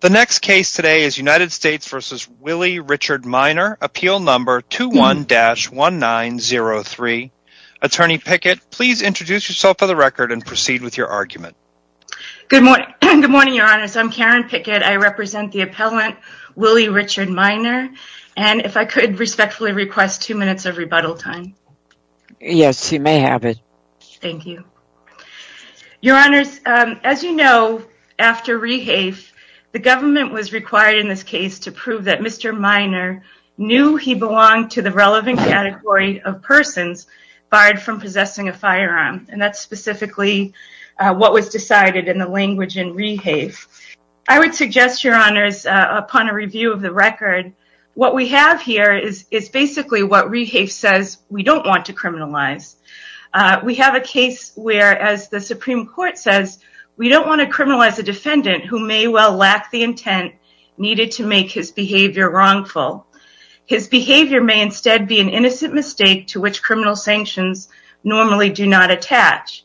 The next case today is United States v. Willie Richard Minor, Appeal No. 21-1903. Attorney Pickett, please introduce yourself for the record and proceed with your argument. Good morning, Your Honors. I'm Karen Pickett. I represent the appellant Willie Richard Minor. And if I could respectfully request two minutes of rebuttal time. Yes, you may have it. Thank you. Your Honors, as you know, after Rehafe, the government was required in this case to prove that Mr. Minor knew he belonged to the relevant category of persons barred from possessing a firearm. And that's specifically what was decided in the language in Rehafe. I would suggest, Your Honors, upon a review of the record, what we have here is basically what Rehafe says we don't want to criminalize. We have a case where, as the Supreme Court says, we don't want to criminalize a defendant who may well lack the intent needed to make his behavior wrongful. His behavior may instead be an innocent mistake to which criminal sanctions normally do not attach.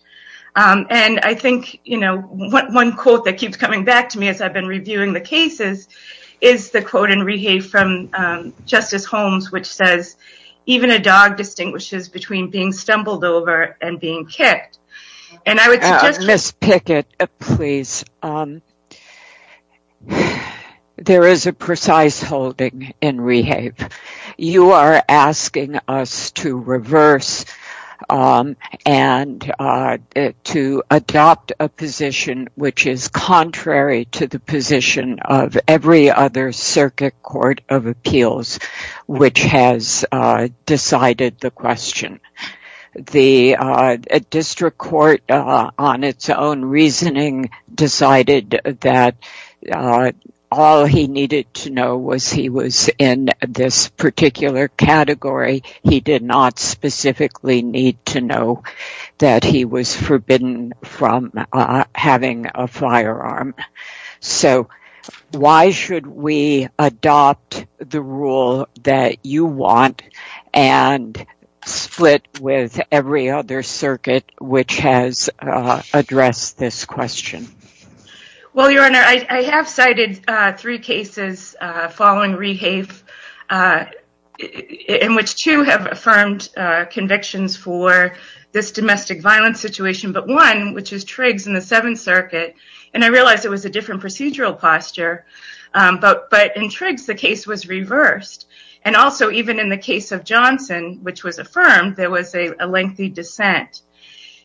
And I think, you know, one quote that keeps coming back to me as I've been reviewing the cases is the quote in Rehafe from Justice Holmes, which says, even a dog distinguishes between being stumbled over and being kicked. Ms. Pickett, please, there is a precise holding in Rehafe. You are asking us to reverse and to adopt a position which is contrary to the position of every other which has decided the question. The district court, on its own reasoning, decided that all he needed to know was he was in this particular category. He did not specifically need to know that he was forbidden from having a firearm. So why should we adopt the rule that you want and split with every other circuit which has addressed this question? Well, Your Honor, I have cited three cases following Rehafe, in which two have affirmed convictions for this domestic violence situation, but one, which is Triggs in the Seventh Circuit, and I realize it was a different procedural posture, but in Triggs the case was reversed. And also even in the case of Johnson, which was affirmed, there was a lengthy dissent.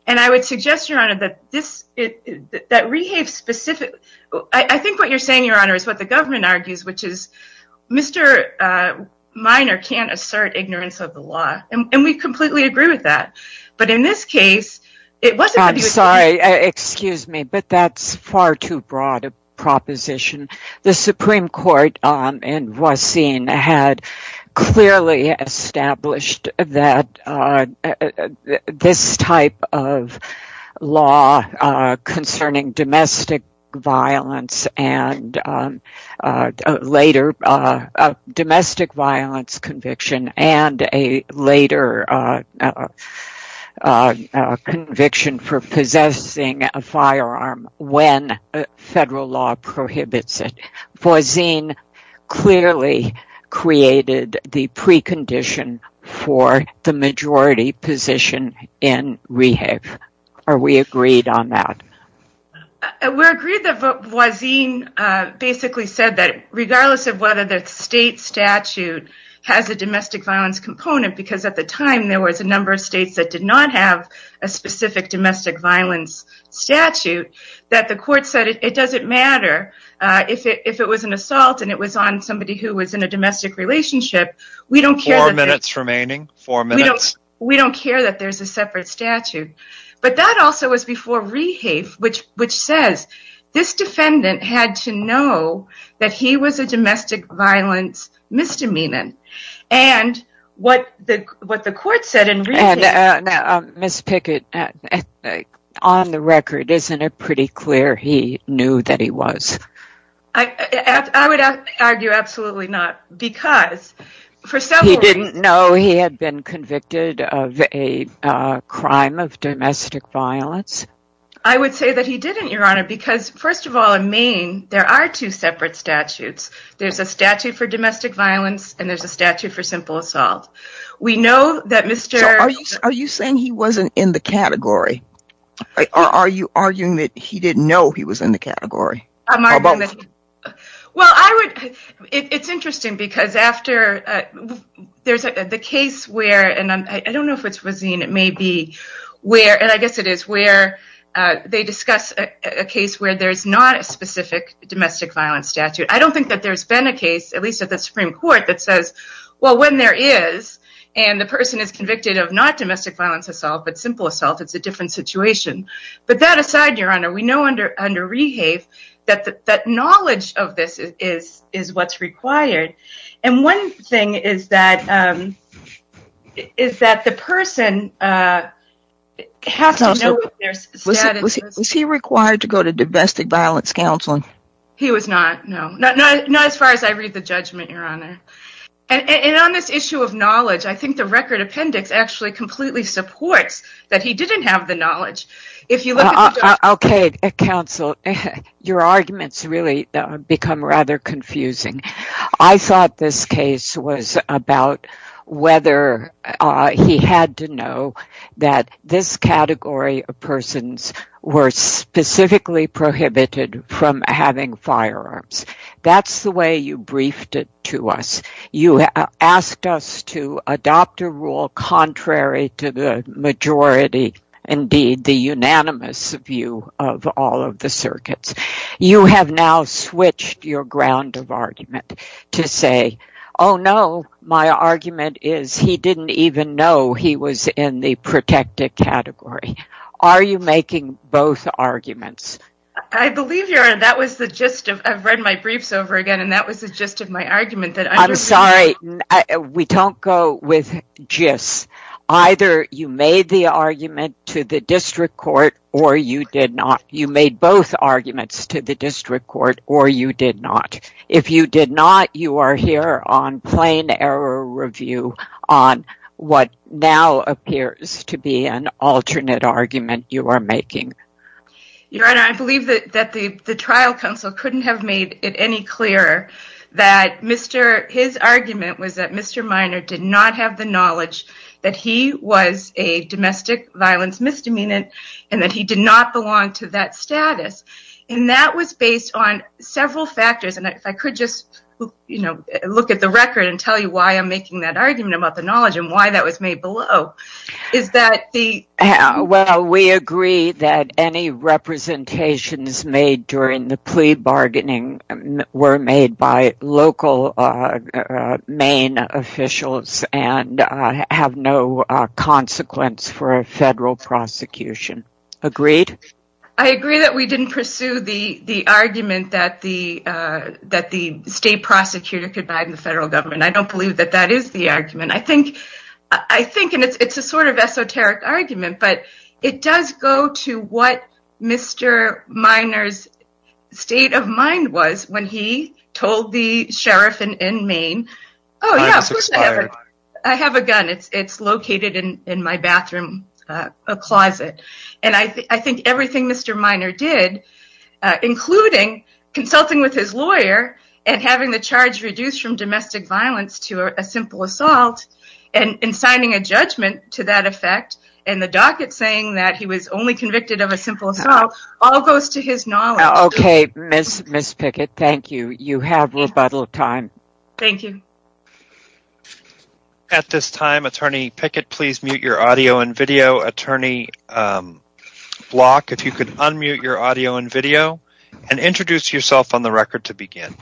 And I would suggest, Your Honor, that Rehafe specifically, I think what you're saying, Your Honor, is what the government argues, which is Mr. Minor can't assert ignorance of the law. And we completely agree with that. I'm sorry, excuse me, but that's far too broad a proposition. The Supreme Court in Voisin had clearly established that this type of law concerning domestic violence and later domestic violence conviction and a later conviction for possessing a firearm when federal law prohibits it. Voisin clearly created the precondition for the majority position in Rehafe. Are we agreed on that? We're agreed that Voisin basically said that regardless of whether the state statute has a domestic violence component, because at the time there was a number of states that did not have a specific domestic violence statute, that the court said it doesn't matter if it was an assault and it was on somebody who was in a domestic relationship. Four minutes remaining. We don't care that there's a separate statute. But that also was before Rehafe, which says this defendant had to know that he was a domestic violence misdemeanant. And what the court said in Rehafe... Ms. Pickett, on the record, isn't it pretty clear he knew that he was? I would argue absolutely not, because for several reasons... He didn't know he had been convicted of a crime of domestic violence? I would say that he didn't, Your Honor, because first of all, in Maine, there are two separate statutes. There's a statute for domestic violence and there's a statute for simple assault. Are you saying he wasn't in the category? Or are you arguing that he didn't know he was in the category? Well, it's interesting, because after the case where... I don't know if it's Razin. I guess it is where they discuss a case where there's not a specific domestic violence statute. I don't think that there's been a case, at least at the Supreme Court, that says, well, when there is and the person is convicted of not domestic violence assault, but simple assault, it's a different situation. But that aside, Your Honor, we know under REHAVE that knowledge of this is what's required. And one thing is that the person has to know what their status is. Was he required to go to domestic violence counseling? He was not, no. Not as far as I read the judgment, Your Honor. And on this issue of knowledge, I think the record appendix actually completely supports that he didn't have the knowledge. Okay, counsel. Your arguments really become rather confusing. I thought this case was about whether he had to know that this category of persons were specifically prohibited from having firearms. That's the way you briefed it to us. You asked us to adopt a rule contrary to the majority, indeed, the unanimous view of all of the circuits. You have now switched your ground of argument to say, oh no, my argument is he didn't even know he was in the protected category. Are you making both arguments? I believe, Your Honor, that was the gist. I've read my briefs over again, and that was the gist of my argument. I'm sorry. We don't go with gist. Either you made the argument to the district court or you did not. You made both arguments to the district court or you did not. If you did not, you are here on plain error review on what now appears to be an alternate argument you are making. Your Honor, I believe that the trial counsel couldn't have made it any clearer that his argument was that Mr. Minor did not have the knowledge that he was a domestic violence misdemeanor and that he did not belong to that status. That was based on several factors. If I could just look at the record and tell you why I'm making that argument about the knowledge and why that was made below. Well, we agree that any representations made during the plea bargaining were made by local Maine officials and have no consequence for a federal prosecution. Agreed? I agree that we didn't pursue the argument that the state prosecutor could buy the federal government. I don't believe that that is the argument. I think it's a sort of esoteric argument, but it does go to what Mr. Minor's state of mind was when he told the sheriff in Maine. I have a gun. It's located in my bathroom closet. I think everything Mr. Minor did, including consulting with his lawyer and having the charge reduced from domestic violence to a simple assault and signing a judgment to that effect and the docket saying that he was only convicted of a simple assault, all goes to his knowledge. Okay, Ms. Pickett, thank you. You have rebuttal time. Thank you. At this time, Attorney Pickett, please mute your audio and video. Attorney Block, if you could unmute your audio and video and introduce yourself on the record to begin.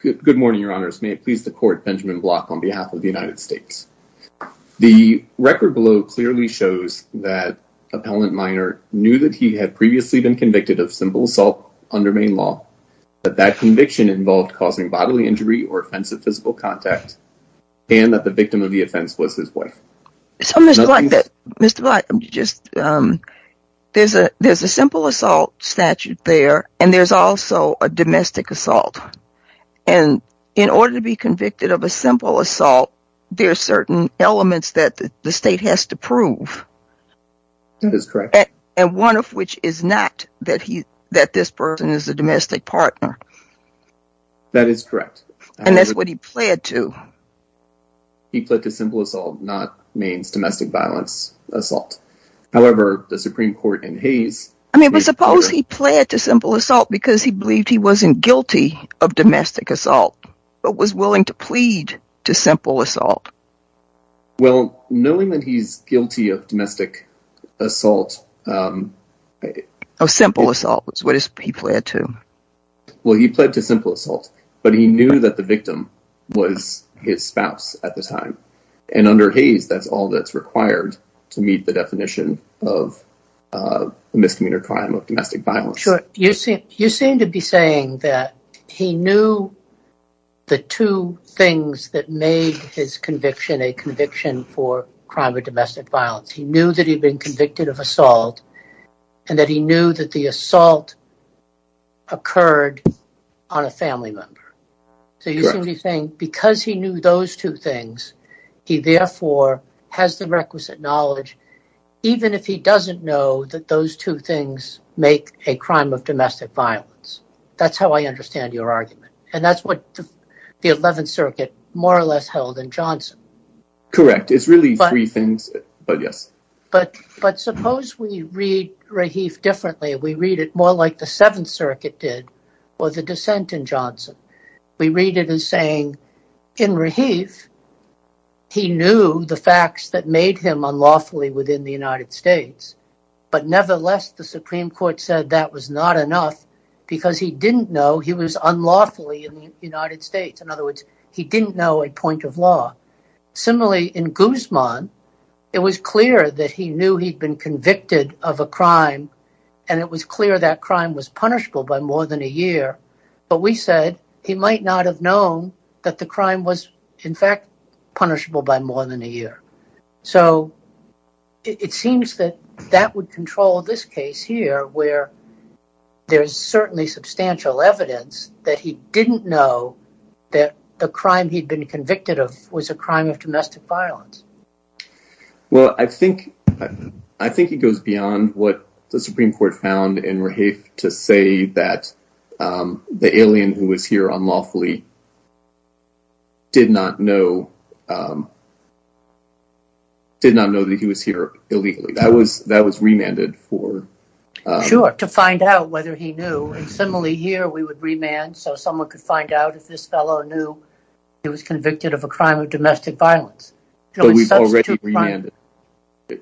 Good morning, Your Honors. May it please the court, Benjamin Block on behalf of the United States. The record below clearly shows that Appellant Minor knew that he had previously been convicted of simple assault under Maine law, that that conviction involved causing bodily injury or offensive physical contact, and that the victim of the offense was his wife. So, Mr. Block, there's a simple assault statute there, and there's also a domestic assault. And in order to be convicted of a simple assault, there are certain elements that the state has to prove. That is correct. And one of which is not that this person is a domestic partner. That is correct. And that's what he pled to. He pled to simple assault, not Maine's domestic violence assault. However, the Supreme Court in Hays... I mean, but suppose he pled to simple assault because he believed he wasn't guilty of domestic assault, but was willing to plead to simple assault. Well, knowing that he's guilty of domestic assault... Oh, simple assault is what he pled to. Well, he pled to simple assault, but he knew that the victim was his spouse at the time. And under Hays, that's all that's required to meet the definition of misdemeanor crime of domestic violence. Sure. You seem to be saying that he knew the two things that made his conviction a conviction for crime of domestic violence. He knew that he'd been convicted of assault and that he knew that the assault occurred on a family member. So you seem to be saying because he knew those two things, he therefore has the requisite knowledge, even if he doesn't know that those two things make a crime of domestic violence. That's how I understand your argument. And that's what the 11th Circuit more or less held in Johnson. Correct. It's really three things. But yes. But suppose we read Rahif differently. We read it more like the 7th Circuit did or the dissent in Johnson. We read it as saying, in Rahif, he knew the facts that made him unlawfully within the United States. But nevertheless, the Supreme Court said that was not enough because he didn't know he was unlawfully in the United States. In other words, he didn't know a point of law. Similarly, in Guzman, it was clear that he knew he'd been convicted of a crime. And it was clear that crime was punishable by more than a year. But we said he might not have known that the crime was, in fact, punishable by more than a year. So it seems that that would control this case here where there's certainly substantial evidence that he didn't know that the crime he'd been convicted of was a crime of domestic violence. Well, I think it goes beyond what the Supreme Court found in Rahif to say that the alien who was here unlawfully did not know that he was here illegally. That was remanded for... Sure. To find out whether he knew. And similarly here, we would remand so someone could find out if this fellow knew he was convicted of a crime of domestic violence. But we've already remanded...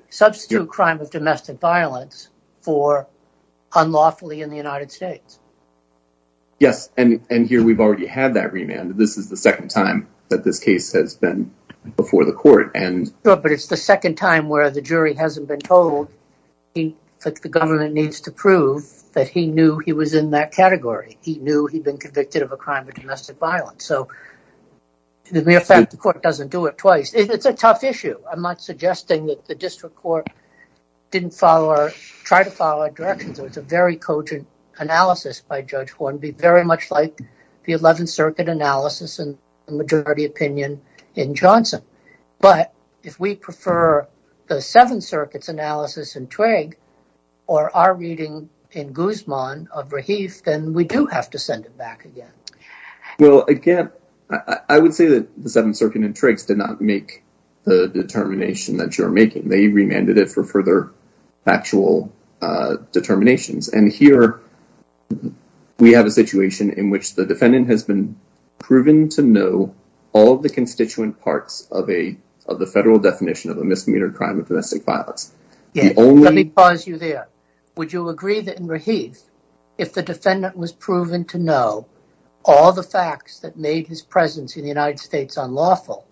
Substitute crime of domestic violence for unlawfully in the United States. Yes, and here we've already had that remanded. This is the second time that this case has been before the court. Sure, but it's the second time where the jury hasn't been told that the government needs to prove that he knew he was in that category. He knew he'd been convicted of a crime of domestic violence. As a matter of fact, the court doesn't do it twice. It's a tough issue. I'm not suggesting that the district court didn't try to follow our directions. It was a very cogent analysis by Judge Hornby, very much like the 11th Circuit analysis and majority opinion in Johnson. But if we prefer the 7th Circuit's analysis in Twigg or our reading in Guzman of Rahif, then we do have to send it back again. Well, again, I would say that the 7th Circuit and Twiggs did not make the determination that you're making. They remanded it for further factual determinations. And here we have a situation in which the defendant has been proven to know all the constituent parts of the federal definition of a misdemeanor crime of domestic violence. Let me pause you there. Would you agree that in Rahif, if the defendant was proven to know all the facts that made his presence in the United States unlawful,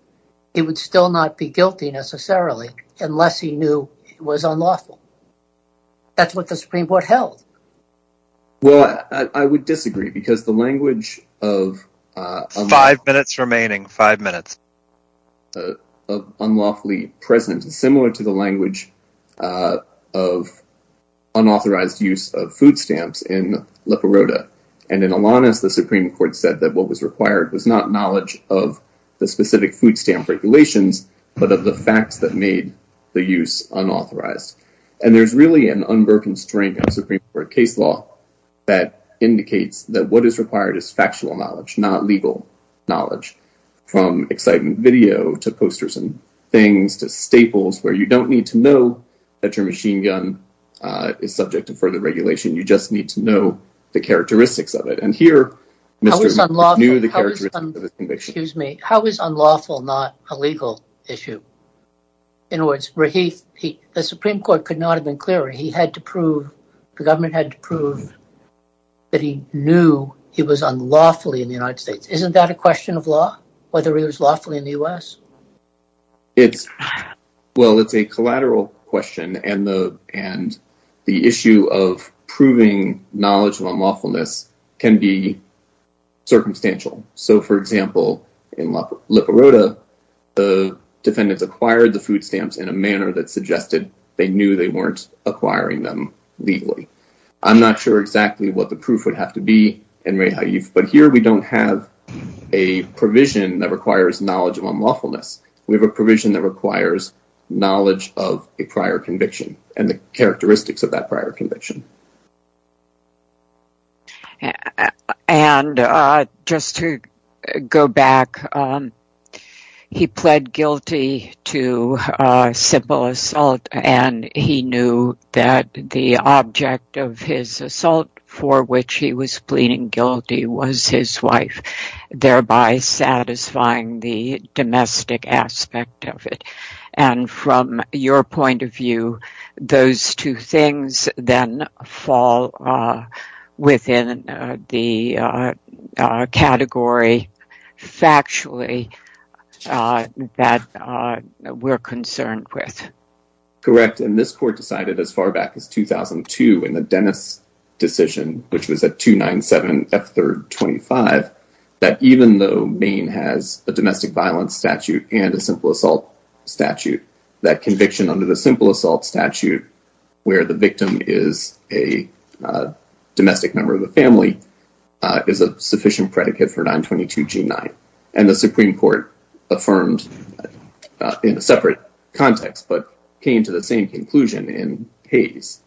he would still not be guilty, necessarily, unless he knew it was unlawful? That's what the Supreme Court held. Well, I would disagree, because the language of unlawfully present is similar to the language of unauthorized use of food stamps in La Paroda. And in Alanis, the Supreme Court said that what was required was not knowledge of the specific food stamp regulations, but of the facts that made the use unauthorized. And there's really an unbroken strength of Supreme Court case law that indicates that what is required is factual knowledge, not legal knowledge, from excitement video to posters and things to staples, where you don't need to know that your machine gun is subject to further regulation. You just need to know the characteristics of it. And here, Mr. Smith knew the characteristics of his conviction. How is unlawful not a legal issue? In other words, the Supreme Court could not have been clearer. The government had to prove that he knew he was unlawfully in the United States. Isn't that a question of law, whether he was lawfully in the U.S.? Well, it's a collateral question, and the issue of proving knowledge of unlawfulness can be circumstantial. So, for example, in La Paroda, the defendants acquired the food stamps in a manner that suggested they knew they weren't acquiring them legally. I'm not sure exactly what the proof would have to be, but here we don't have a provision that requires knowledge of unlawfulness. We have a provision that requires knowledge of a prior conviction and the characteristics of that prior conviction. And just to go back, he pled guilty to simple assault, and he knew that the object of his assault for which he was pleading guilty was his wife, thereby satisfying the domestic aspect of it. And from your point of view, those two things then fall within the category, factually, that we're concerned with. Correct. And this court decided as far back as 2002 in the Dennis decision, which was at 297F325, that even though Maine has a domestic violence statute and a simple assault statute, that conviction under the simple assault statute, where the victim is a domestic member of the family, is a sufficient predicate for 922G9. And the Supreme Court affirmed in a separate context, but came to the same conclusion in Hayes.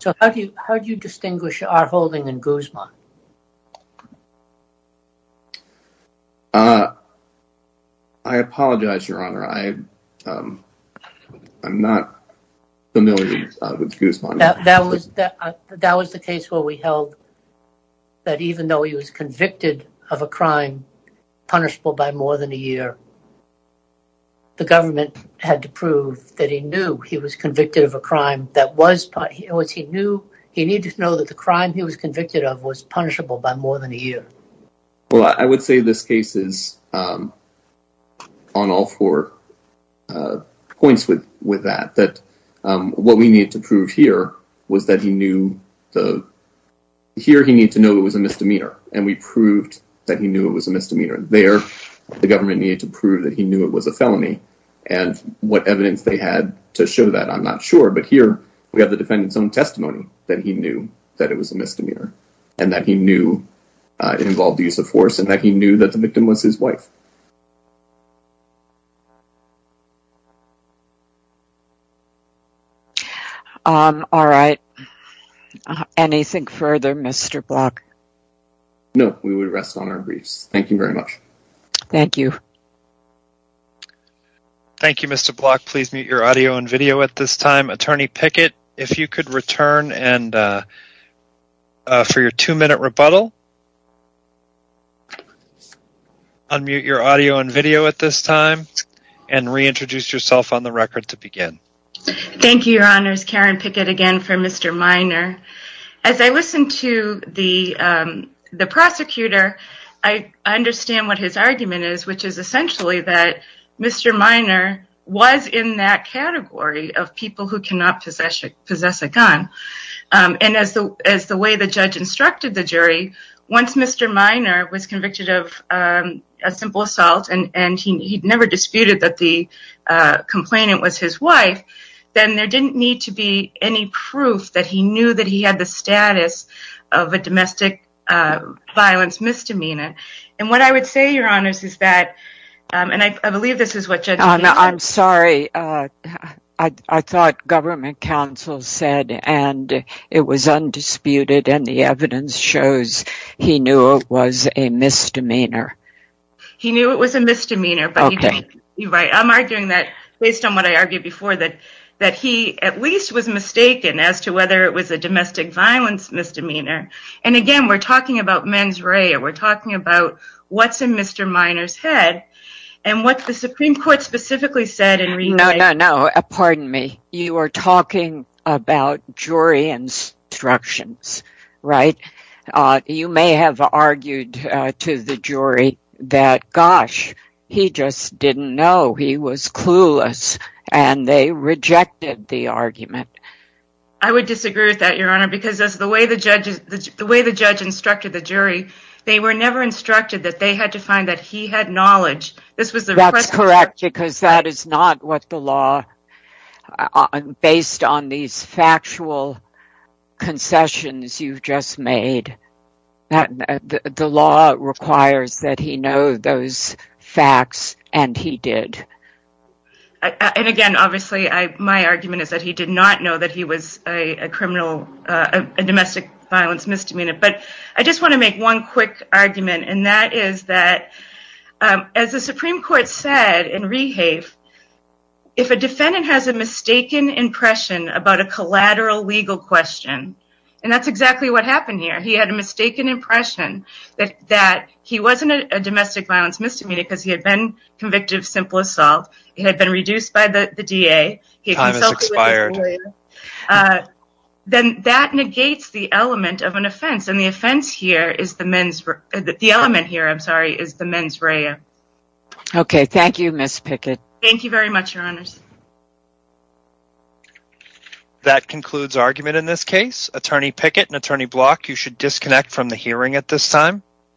So how do you distinguish our holding and Guzman? I apologize, Your Honor. I'm not familiar with Guzman. That was the case where we held that even though he was convicted of a crime punishable by more than a year, the government had to prove that he knew he was convicted of a crime. He needed to know that the crime he was convicted of was punishable by more than a year. Well, I would say this case is on all four points with that, that what we need to prove here was that he knew the here he needed to know it was a misdemeanor and we proved that he knew it was a misdemeanor there. The government needed to prove that he knew it was a felony and what evidence they had to show that I'm not sure. But here we have the defendant's own testimony that he knew that it was a misdemeanor and that he knew it involved the use of force and that he knew that the victim was his wife. All right. Anything further, Mr. Block? No, we would rest on our briefs. Thank you very much. Thank you. Thank you, Mr. Block. Please mute your audio and video at this time. Attorney Pickett, if you could return and for your two minute rebuttal. Unmute your audio and video at this time and reintroduce yourself on the record to begin. Thank you, Your Honors. Karen Pickett again for Mr. Minor. As I listened to the prosecutor, I understand what his argument is, which is essentially that Mr. Minor was in that category of people who cannot possess a gun. And as the way the judge instructed the jury, once Mr. Minor was convicted of a simple assault and he never disputed that the complainant was his wife, then there didn't need to be any proof that he knew that he had the status of a domestic violence misdemeanor. And what I would say, Your Honors, is that, and I believe this is what Judge... I'm sorry. I thought government counsel said and it was undisputed and the evidence shows he knew it was a misdemeanor. He knew it was a misdemeanor. I'm arguing that based on what I argued before, that he at least was mistaken as to whether it was a domestic violence misdemeanor. And again, we're talking about mens rea. We're talking about what's in Mr. Minor's head and what the Supreme Court specifically said. No, no, no. Pardon me. You are talking about jury instructions, right? You may have argued to the jury that, gosh, he just didn't know. He was clueless. And they rejected the argument. I would disagree with that, Your Honor, because the way the judge instructed the jury, they were never instructed that they had to find that he had knowledge. This was the request. That's correct, because that is not what the law, based on these factual concessions you've just made, the law requires that he know those facts and he did. And again, obviously, my argument is that he did not know that he was a domestic violence misdemeanor. But I just want to make one quick argument, and that is that as the Supreme Court said in Rehave, if a defendant has a mistaken impression about a collateral legal question, and that's exactly what happened here. He had a mistaken impression that he wasn't a domestic violence misdemeanor because he had been convicted of simple assault, he had been reduced by the DA, he consulted with his lawyer, then that negates the element of an offense. And the offense here is the mens rea. Okay, thank you, Ms. Pickett. Thank you very much, Your Honors. That concludes argument in this case. Attorney Pickett and Attorney Block, you should disconnect from the hearing at this time.